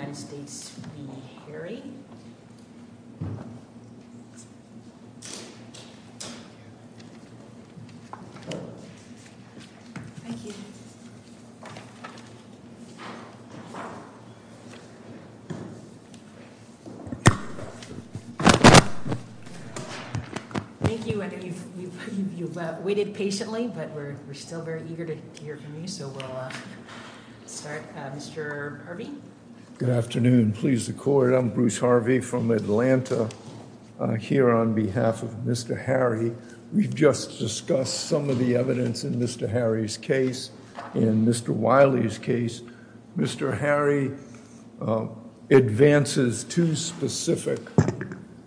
United States v. Harry. Thank you. I think you've waited patiently, but we're still very good to hear from you, so we'll start. Mr. Harvey? Good afternoon. Please the court. I'm Bruce Harvey from Atlanta here on behalf of Mr. Harry. We've just discussed some of the evidence in Mr. Harry's case. In Mr. Wiley's case, Mr. Harry advances two specific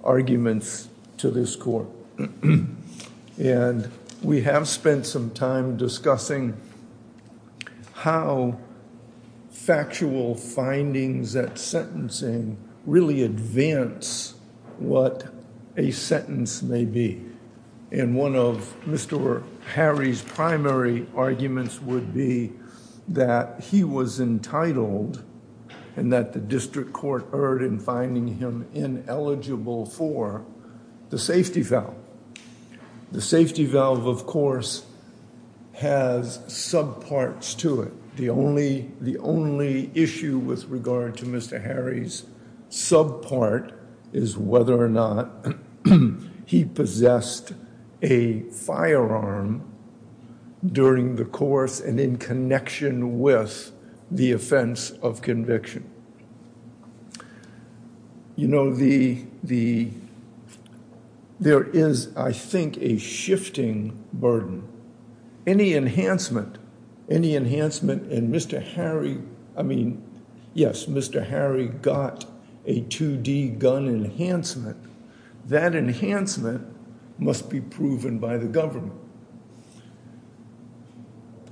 arguments to this court. And we have spent some time discussing how factual findings at sentencing really advance what a sentence may be. And one of Mr. Harry's primary arguments would be that he was entitled and that the district court erred in finding him ineligible for the safety valve. The safety valve, of course, has subparts to it. The only issue with regard to Mr. Harry's subpart is whether or not he possessed a firearm during the course and in connection with the offense of conviction. You know, there is, I think, a shifting burden. Any enhancement in Mr. Harry, I mean, yes, Mr. Harry got a 2D gun enhancement. That enhancement must be proven by the government.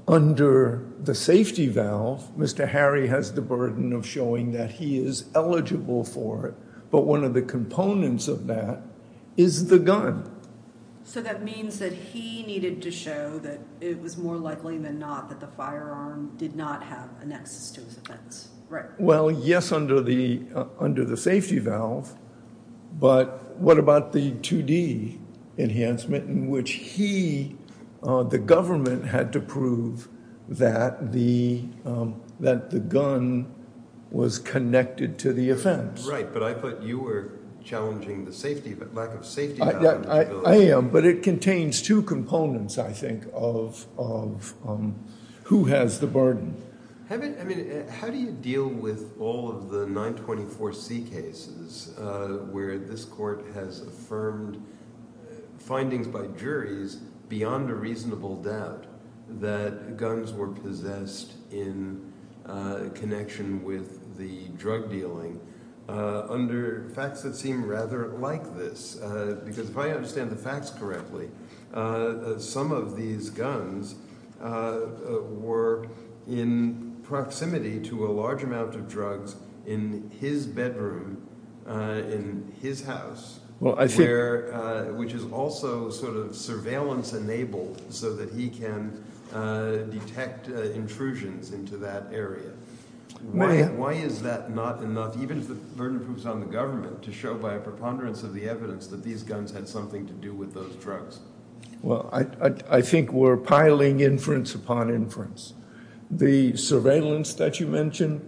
But under the safety valve, Mr. Harry has the burden of showing that he is eligible for it. But one of the components of that is the gun. So that means that he needed to show that it was more likely than not that the firearm did not have an access to his offense. Right. Well, yes, under the safety valve. But what about the 2D enhancement in which he, the government, had to prove that the gun was connected to the offense? Right, but I thought you were challenging the lack of safety valve. I am, but it contains two components, I think, of who has the burden. I mean, how do you deal with all of the 924C cases where this court has affirmed findings by juries beyond a reasonable doubt that guns were possessed in connection with the drug dealing under facts that seem rather like this? Because if I understand the facts correctly, some of these guns were in proximity to a large amount of drugs in his bedroom, in his house, which is also sort of surveillance enabled so that he can detect intrusions into that area. Why is that not enough, even if the burden proves on the government, to show by a preponderance of the evidence that these guns had something to do with those drugs? Well, I think we're piling inference upon inference. The surveillance that you mentioned,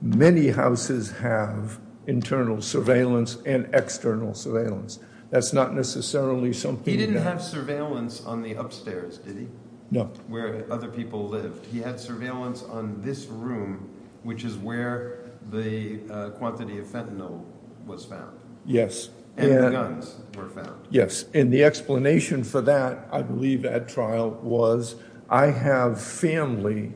many houses have internal surveillance and external surveillance. That's not necessarily something that... He didn't have surveillance on the upstairs, did he? No. Where other people lived. He had surveillance on this room, which is where the quantity of fentanyl was found. And the guns were found. Yes, and the explanation for that, I believe at trial, was I have family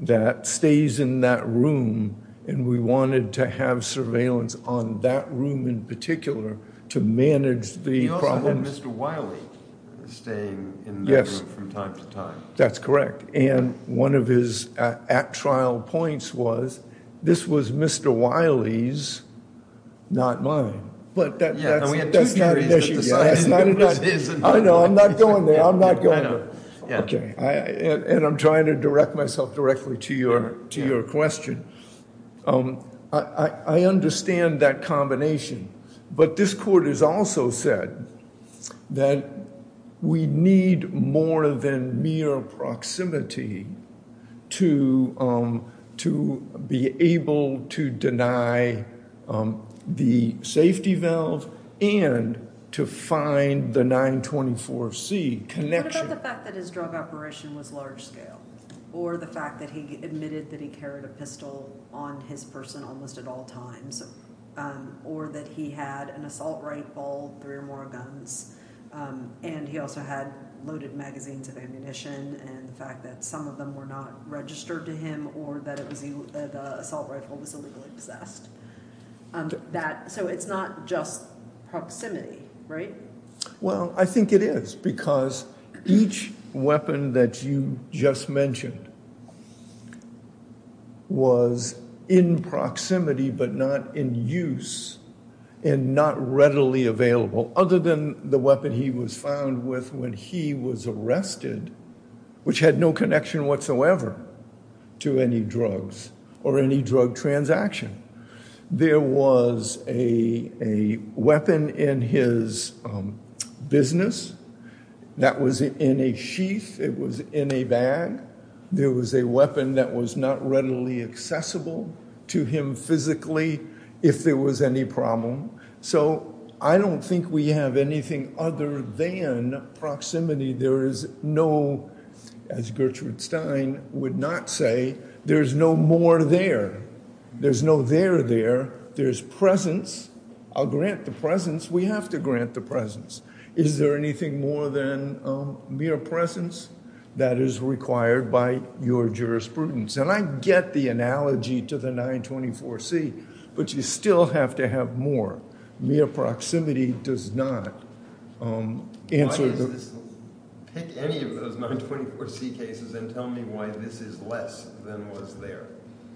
that stays in that room and we wanted to have surveillance on that room in particular to manage the problems. And Mr. Wiley is staying in that room from time to time. Yes, that's correct. And one of his at trial points was, this was Mr. Wiley's, not mine. But that's not an issue. I know, I'm not going there. I'm not going there. And I'm trying to direct myself directly to your question. I understand that combination, but this court has also said that we need more than mere proximity to be able to deny the safety valve and to find the 924C connection. What about the fact that his drug operation was large scale? Or the fact that he admitted that he carried a pistol on his person almost at all times? Or that he had an assault rifle, three or more guns, and he also had loaded magazines of ammunition. And the fact that some of them were not registered to him or that the assault rifle was illegally possessed. So it's not just proximity, right? Well, I think it is because each weapon that you just mentioned was in proximity but not in use and not readily available other than the weapon he was found with when he was arrested, which had no connection whatsoever to any drugs or any drug transaction. There was a weapon in his business that was in a sheath. It was in a bag. There was a weapon that was not readily accessible to him physically if there was any problem. So I don't think we have anything other than proximity. As Gertrude Stein would not say, there's no more there. There's no there there. There's presence. I'll grant the presence. We have to grant the presence. Is there anything more than mere presence that is required by your jurisprudence? And I get the analogy to the 924C, but you still have to have more. Mere proximity does not answer. Pick any of those 924C cases and tell me why this is less than was there.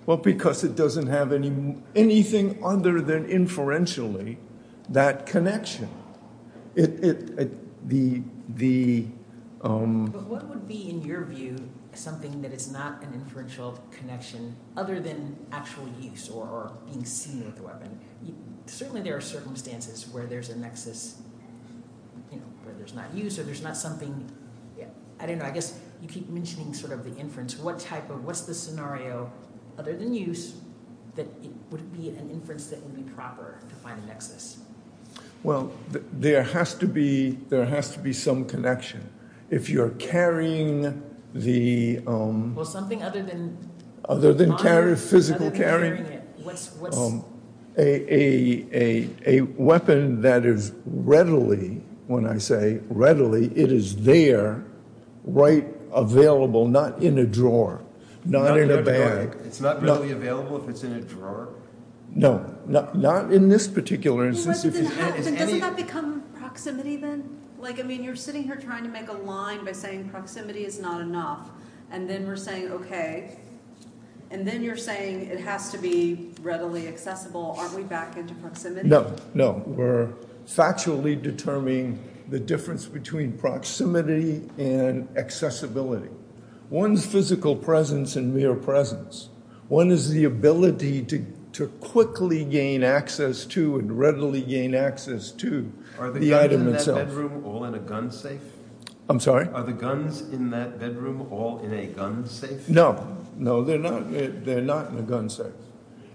Well, because it doesn't have anything other than inferentially that connection. But what would be, in your view, something that is not an inferential connection other than actual use or being seen with a weapon? Certainly there are circumstances where there's a nexus where there's not use or there's not something. I don't know. I guess you keep mentioning sort of the inference. What type of what's the scenario other than use that it would be an inference that would be proper to find a nexus? Well, there has to be there has to be some connection. If you're carrying the. Well, something other than. Other than carry physical carrying it. A weapon that is readily, when I say readily, it is there, right? Available, not in a drawer, not in a bag. It's not really available if it's in a drawer. No, not in this particular instance. Doesn't that become proximity then? Like, I mean, you're sitting here trying to make a line by saying proximity is not enough. And then we're saying, OK, and then you're saying it has to be readily accessible. Aren't we back into proximity? No, no. We're factually determining the difference between proximity and accessibility. One's physical presence and mere presence. One is the ability to quickly gain access to and readily gain access to the item itself. Are the guns in that bedroom all in a gun safe? I'm sorry? Are the guns in that bedroom all in a gun safe? No, no, they're not. They're not in a gun safe.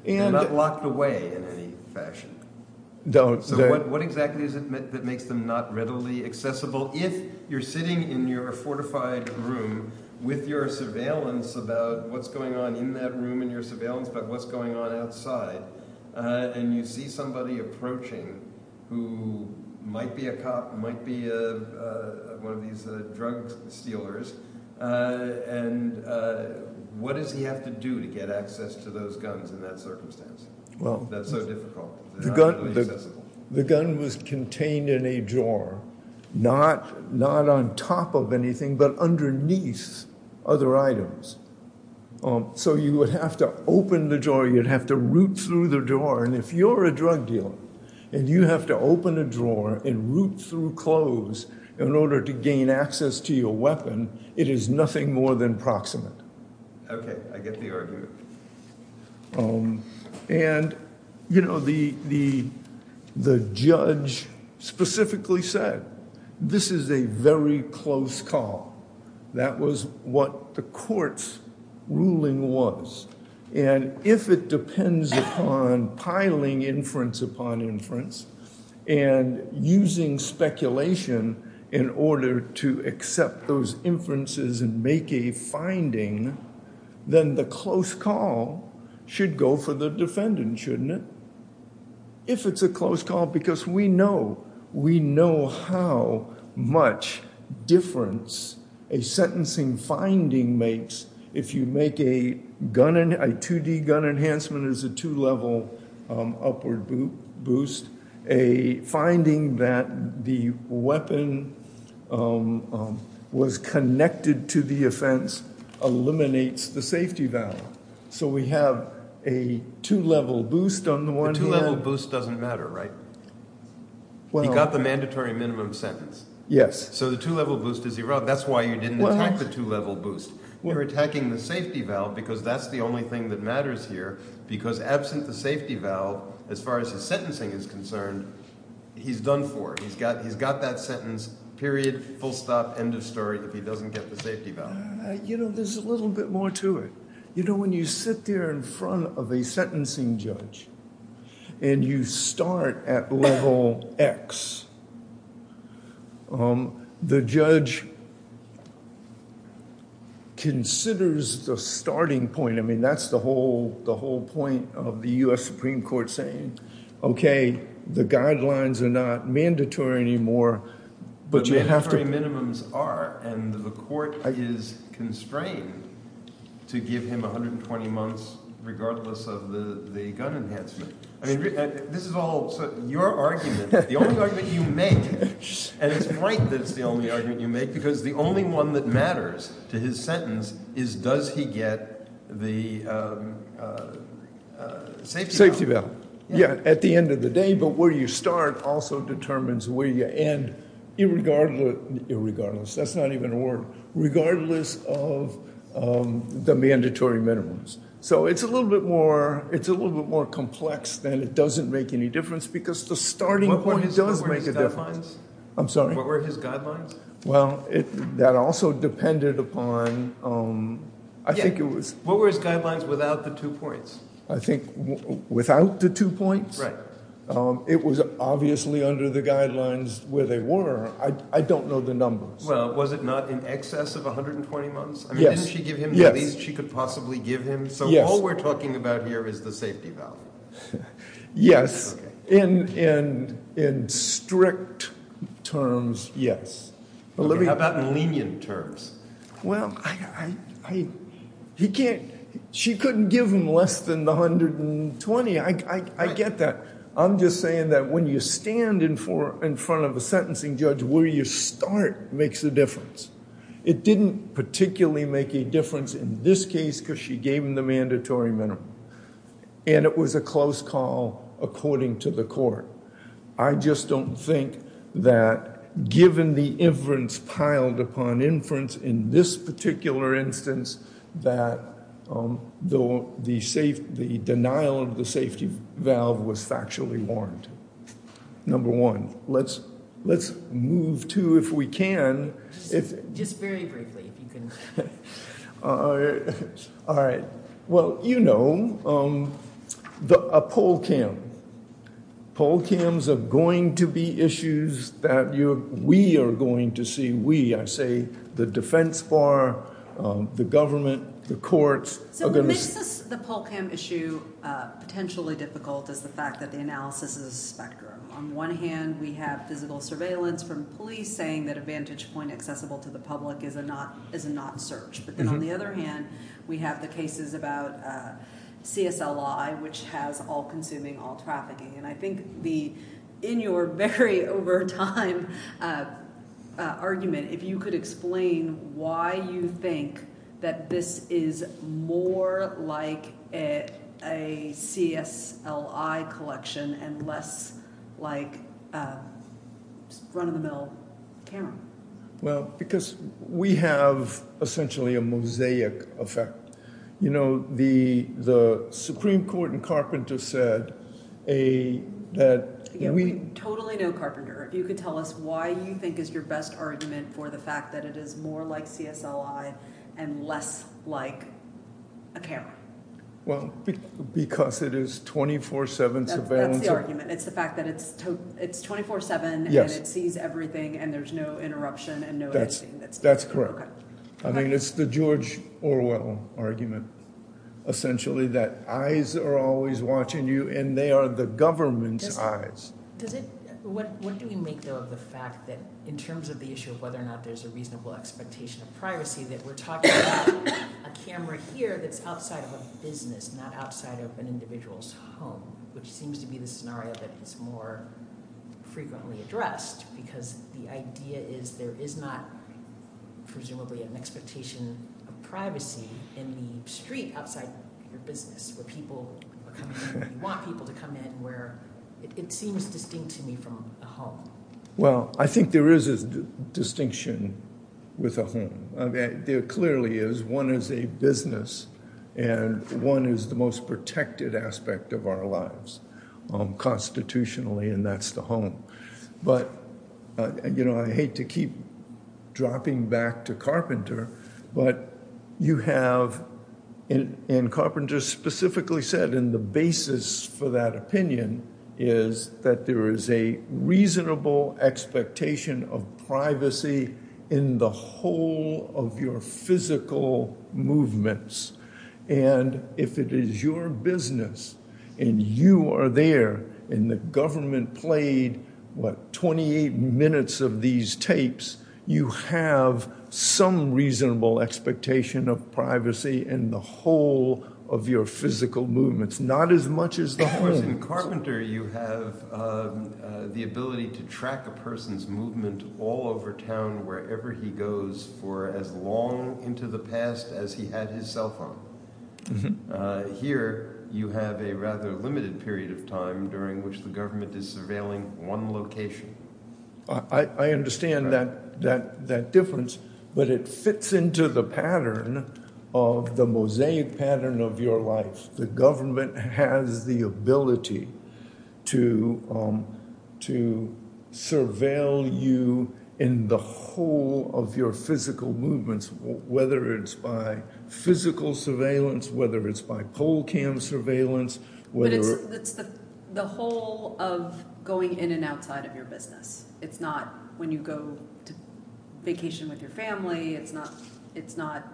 They're not locked away in any fashion. Don't. So what exactly is it that makes them not readily accessible? Well, if you're sitting in your fortified room with your surveillance about what's going on in that room and your surveillance about what's going on outside, and you see somebody approaching who might be a cop, might be one of these drug stealers, and what does he have to do to get access to those guns in that circumstance? That's so difficult. The gun was contained in a drawer, not on top of anything but underneath other items. So you would have to open the drawer. You'd have to root through the drawer. And if you're a drug dealer and you have to open a drawer and root through clothes in order to gain access to your weapon, it is nothing more than proximate. Okay, I get the argument. And, you know, the judge specifically said this is a very close call. That was what the court's ruling was. And if it depends upon piling inference upon inference and using speculation in order to accept those inferences and make a finding, then the close call should go for the defendant, shouldn't it? If it's a close call, because we know how much difference a sentencing finding makes. If you make a 2D gun enhancement as a two-level upward boost, a finding that the weapon was connected to the offense eliminates the safety value. So we have a two-level boost on the one hand. The two-level boost doesn't matter, right? He got the mandatory minimum sentence. Yes. So the two-level boost is irrelevant. That's why you didn't attack the two-level boost. You're attacking the safety valve because that's the only thing that matters here. Because absent the safety valve, as far as his sentencing is concerned, he's done for. He's got that sentence, period, full stop, end of story, if he doesn't get the safety valve. You know, there's a little bit more to it. You know, when you sit there in front of a sentencing judge and you start at level X, the judge considers the starting point. I mean, that's the whole point of the U.S. Supreme Court saying, okay, the guidelines are not mandatory anymore. The mandatory minimums are, and the court is constrained to give him 120 months regardless of the gun enhancement. I mean, this is all your argument. The only argument you make, and it's right that it's the only argument you make, because the only one that matters to his sentence is does he get the safety valve. Yeah, at the end of the day, but where you start also determines where you end, regardless. That's not even a word. Regardless of the mandatory minimums. So it's a little bit more complex than it doesn't make any difference because the starting point does make a difference. What were his guidelines? I'm sorry? What were his guidelines? Well, that also depended upon, I think it was. What were his guidelines without the two points? I think without the two points. Right. It was obviously under the guidelines where they were. I don't know the numbers. Well, was it not in excess of 120 months? Yes. I mean, didn't she give him the least she could possibly give him? Yes. So all we're talking about here is the safety valve. Yes. Okay. In strict terms, yes. How about in lenient terms? Well, she couldn't give him less than the 120. I get that. I'm just saying that when you stand in front of a sentencing judge, where you start makes a difference. It didn't particularly make a difference in this case because she gave him the mandatory minimum. And it was a close call according to the court. I just don't think that given the inference piled upon inference in this particular instance, that the denial of the safety valve was factually warned. Number one, let's move to, if we can. Just very briefly, if you can. All right. Well, you know, a poll cam. Poll cams are going to be issues that we are going to see. We, I say the defense bar, the government, the courts. So what makes the poll cam issue potentially difficult is the fact that the analysis is a spectrum. On one hand, we have physical surveillance from police saying that a vantage point accessible to the public is a not search. And on the other hand, we have the cases about CSLI, which has all consuming, all trafficking. And I think the in your very over time argument, if you could explain why you think that this is more like a CSLI collection and less like run of the mill. Well, because we have essentially a mosaic effect. You know, the the Supreme Court and Carpenter said a that we totally know Carpenter. If you could tell us why you think is your best argument for the fact that it is more like CSLI and less like a camera. Well, because it is 24 7 surveillance. It's the fact that it's it's 24 7 and it sees everything and there's no interruption. That's that's correct. I mean, it's the George Orwell argument, essentially, that eyes are always watching you and they are the government's eyes. What do we make, though, of the fact that in terms of the issue of whether or not there's a reasonable expectation of privacy, that we're talking about a camera here that's outside of a business, not outside of an individual's home, which seems to be the scenario that is more frequently addressed. Because the idea is there is not presumably an expectation of privacy in the street outside your business where people want people to come in where it seems distinct to me from a home. Well, I think there is a distinction with a home. There clearly is. One is a business and one is the most protected aspect of our lives constitutionally. And that's the home. But, you know, I hate to keep dropping back to Carpenter. But you have in Carpenter specifically said in the basis for that opinion is that there is a reasonable expectation of privacy in the whole of your physical movements. And if it is your business and you are there and the government played, what, 28 minutes of these tapes, you have some reasonable expectation of privacy in the whole of your physical movements, not as much as the home. In Carpenter, you have the ability to track a person's movement all over town, wherever he goes for as long into the past as he had his cell phone. Here, you have a rather limited period of time during which the government is surveilling one location. I understand that difference, but it fits into the pattern of the mosaic pattern of your life. The government has the ability to surveil you in the whole of your physical movements, whether it's by physical surveillance, whether it's by pole cam surveillance. It's the whole of going in and outside of your business. It's not when you go to vacation with your family. It's not it's not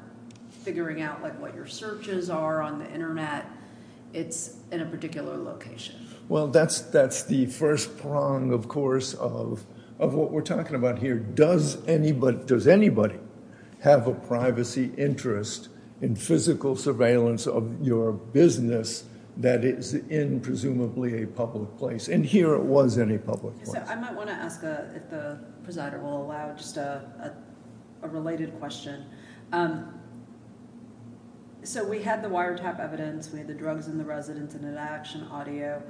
figuring out what your searches are on the Internet. It's in a particular location. Well, that's that's the first prong, of course, of of what we're talking about here. Does anybody have a privacy interest in physical surveillance of your business that is in presumably a public place? And here it was in a public place. I might want to ask if the presider will allow just a related question. So we had the wiretap evidence. We had the drugs in the residence and an action audio.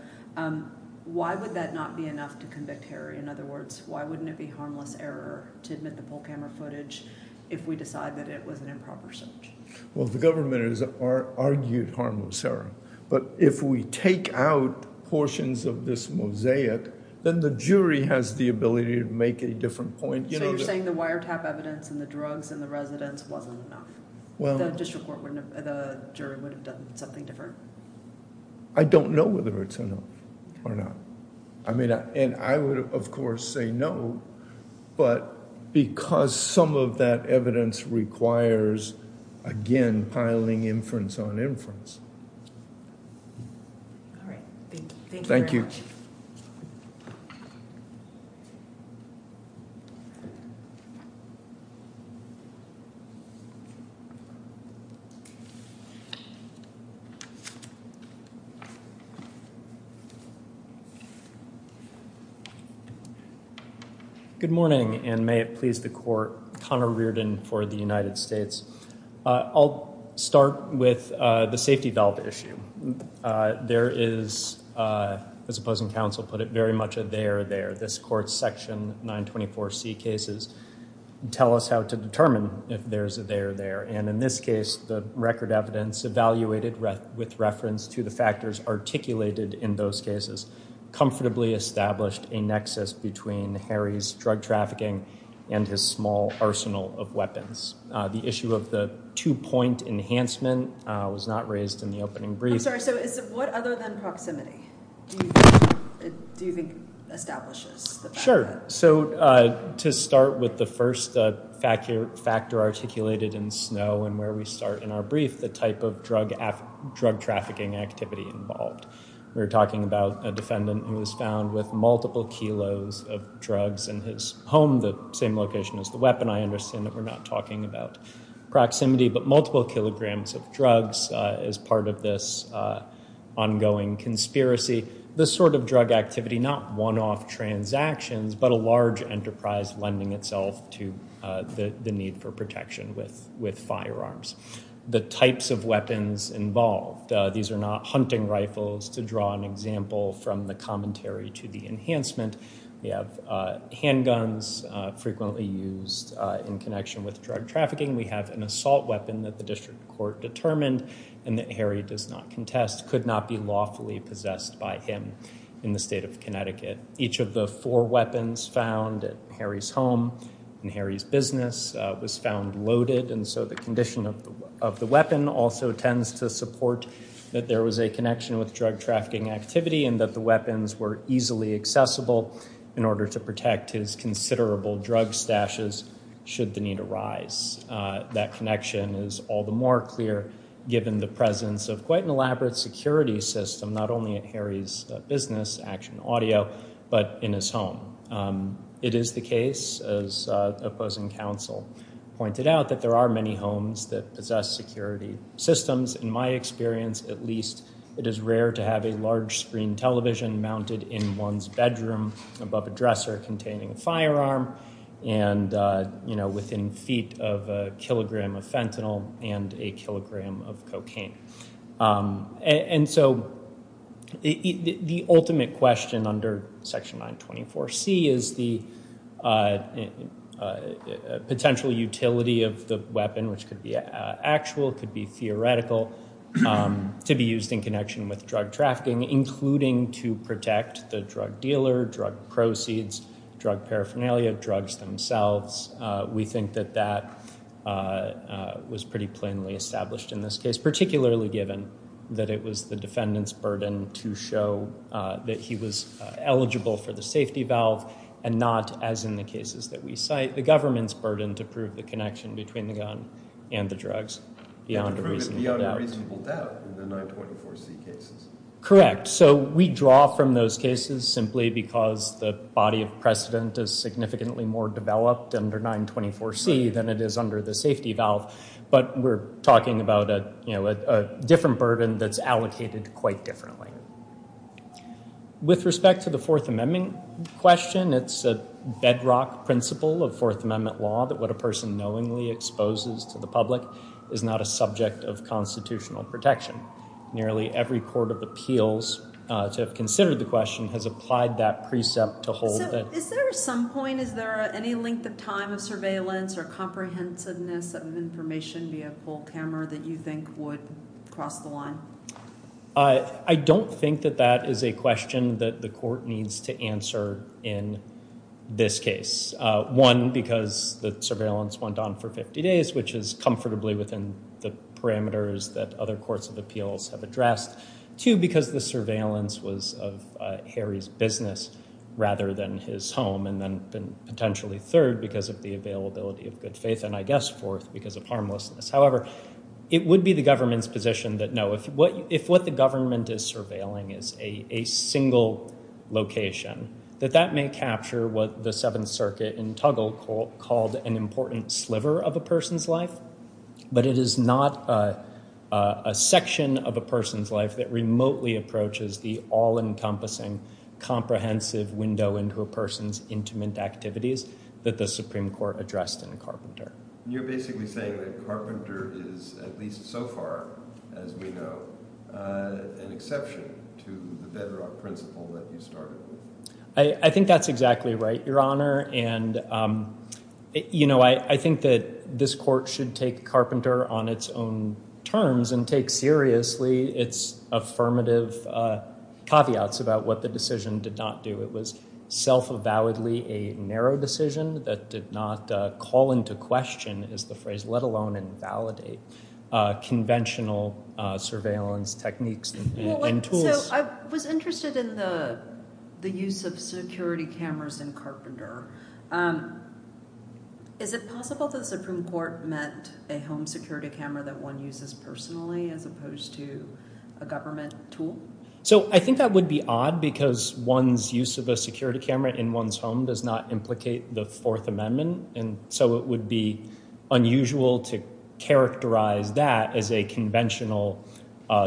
Why would that not be enough to convict Harry? In other words, why wouldn't it be harmless error to admit the pole camera footage if we decide that it was an improper search? Well, the government is argued harmless error. But if we take out portions of this mosaic, then the jury has the ability to make a different point. You're saying the wiretap evidence and the drugs in the residence wasn't enough. Well, the district court wouldn't have the jury would have done something different. I don't know whether it's enough or not. I mean, and I would, of course, say no. But because some of that evidence requires, again, piling inference on inference. Thank you. Good morning, and may it please the court. Connor Reardon for the United States. I'll start with the safety valve issue. There is, as opposing counsel put it, very much a there there. This court's section 924C cases tell us how to determine if there's a there there. And in this case, the record evidence evaluated with reference to the factors articulated in those cases. Comfortably established a nexus between Harry's drug trafficking and his small arsenal of weapons. The issue of the two point enhancement was not raised in the opening brief. So what other than proximity do you think establishes? Sure. So to start with the first factor, factor articulated in snow and where we start in our brief, the type of drug, drug trafficking activity involved. We were talking about a defendant who was found with multiple kilos of drugs in his home, the same location as the weapon. I understand that we're not talking about proximity, but multiple kilograms of drugs as part of this ongoing conspiracy. This sort of drug activity, not one off transactions, but a large enterprise lending itself to the need for protection with firearms. The types of weapons involved. These are not hunting rifles to draw an example from the commentary to the enhancement. We have handguns frequently used in connection with drug trafficking. We have an assault weapon that the district court determined and that Harry does not contest, could not be lawfully possessed by him in the state of Connecticut. Each of the four weapons found at Harry's home and Harry's business was found loaded. And so the condition of the weapon also tends to support that there was a connection with drug trafficking activity and that the weapons were easily accessible in order to protect his considerable drug stashes should the need arise. That connection is all the more clear given the presence of quite an elaborate security system, not only at Harry's business, Action Audio, but in his home. It is the case, as opposing counsel pointed out, that there are many homes that possess security systems. In my experience, at least, it is rare to have a large screen television mounted in one's bedroom above a dresser containing a firearm and, you know, within feet of a kilogram of fentanyl and a kilogram of cocaine. And so the ultimate question under Section 924C is the potential utility of the weapon, which could be actual, could be theoretical, to be used in connection with drug trafficking, including to protect the drug dealer, drug proceeds, drug paraphernalia, drugs themselves. We think that that was pretty plainly established in this case, particularly given that it was the defendant's burden to show that he was eligible for the safety valve and not, as in the cases that we cite, the government's burden to prove the connection between the gun and the drugs beyond a reasonable doubt. And to prove it beyond a reasonable doubt in the 924C cases. Correct. So we draw from those cases simply because the body of precedent is significantly more developed under 924C than it is under the safety valve. But we're talking about, you know, a different burden that's allocated quite differently. With respect to the Fourth Amendment question, it's a bedrock principle of Fourth Amendment law that what a person knowingly exposes to the public is not a subject of constitutional protection. Nearly every court of appeals to have considered the question has applied that precept to hold that. Is there some point, is there any length of time of surveillance or comprehensiveness of information via full camera that you think would cross the line? I don't think that that is a question that the court needs to answer in this case. One, because the surveillance went on for 50 days, which is comfortably within the parameters that other courts of appeals have addressed. Two, because the surveillance was of Harry's business rather than his home. And then potentially third, because of the availability of good faith. And I guess fourth, because of harmlessness. However, it would be the government's position that no, if what the government is surveilling is a single location, that that may capture what the Seventh Circuit in Tuggle called an important sliver of a person's life. But it is not a section of a person's life that remotely approaches the all-encompassing, comprehensive window into a person's intimate activities that the Supreme Court addressed in Carpenter. You're basically saying that Carpenter is, at least so far as we know, an exception to the bedrock principle that you started with. I think that's exactly right, Your Honor. And I think that this court should take Carpenter on its own terms and take seriously its affirmative caveats about what the decision did not do. It was self-avowedly a narrow decision that did not call into question, is the phrase, let alone invalidate conventional surveillance techniques and tools. So I was interested in the use of security cameras in Carpenter. Is it possible that the Supreme Court meant a home security camera that one uses personally as opposed to a government tool? So I think that would be odd, because one's use of a security camera in one's home does not implicate the Fourth Amendment. And so it would be unusual to characterize that as a conventional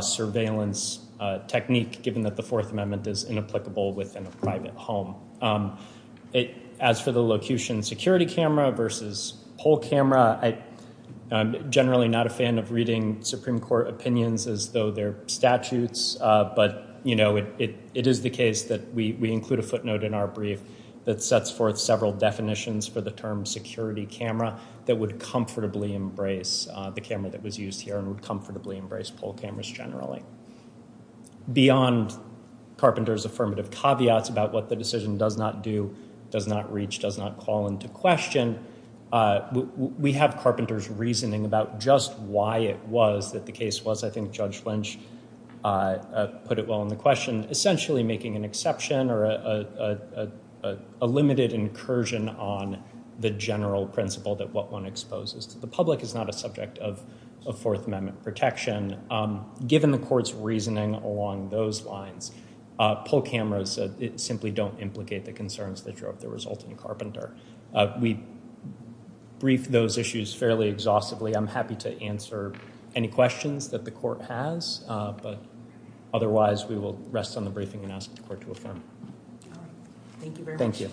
surveillance technique, given that the Fourth Amendment is inapplicable within a private home. As for the locution security camera versus poll camera, I'm generally not a fan of reading Supreme Court opinions as though they're statutes. But, you know, it is the case that we include a footnote in our brief that sets forth several definitions for the term security camera that would comfortably embrace the camera that was used here and would comfortably embrace poll cameras generally. Beyond Carpenter's affirmative caveats about what the decision does not do, does not reach, does not call into question, we have Carpenter's reasoning about just why it was that the case was, I think Judge Lynch put it well in the question, essentially making an exception or a limited incursion on the general principle that what one exposes to the public is not a subject of Fourth Amendment protection. And given the court's reasoning along those lines, poll cameras simply don't implicate the concerns that drove the result in Carpenter. We briefed those issues fairly exhaustively. I'm happy to answer any questions that the court has. But otherwise, we will rest on the briefing and ask the court to affirm. Thank you.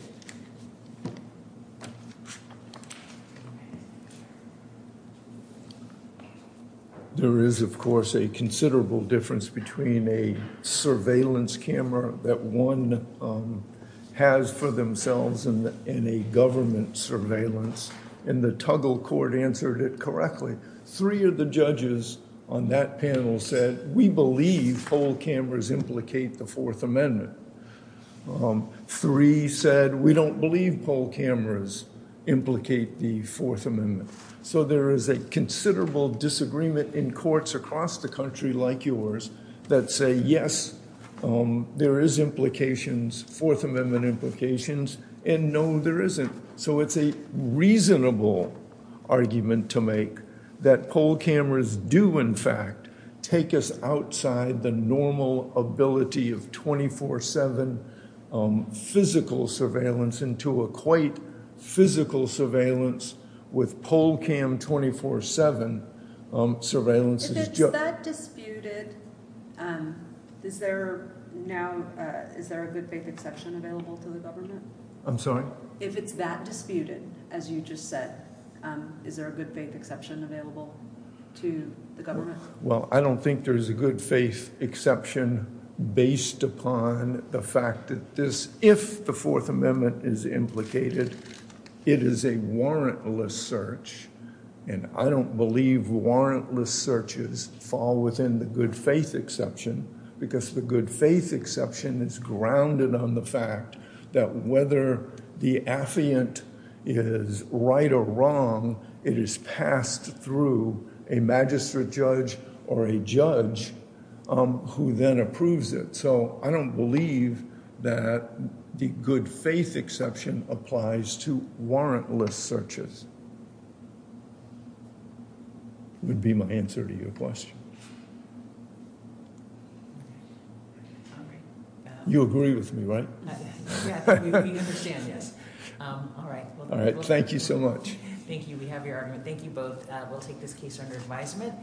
There is, of course, a considerable difference between a surveillance camera that one has for themselves and a government surveillance. And the Tuggle Court answered it correctly. Three of the judges on that panel said we believe poll cameras implicate the Fourth Amendment. Three said we don't believe poll cameras implicate the Fourth Amendment. So there is a considerable disagreement in courts across the country like yours that say, yes, there is implications, Fourth Amendment implications. And no, there isn't. So it's a reasonable argument to make that poll cameras do, in fact, take us outside the normal ability of 24-7 physical surveillance into a quite physical surveillance with poll cam 24-7 surveillance. If it's that disputed, is there now, is there a good faith exception available to the government? I'm sorry? If it's that disputed, as you just said, is there a good faith exception available to the government? Well, I don't think there is a good faith exception based upon the fact that this, if the Fourth Amendment is implicated, it is a warrantless search. And I don't believe warrantless searches fall within the good faith exception because the good faith exception is grounded on the fact that whether the affiant is right or wrong, it is passed through a magistrate judge or a judge who then approves it. So I don't believe that the good faith exception applies to warrantless searches would be my answer to your question. You agree with me, right? Yeah, we understand, yes. All right. All right. Thank you so much. Thank you. We have your argument. Thank you both. We'll take this case under advisement.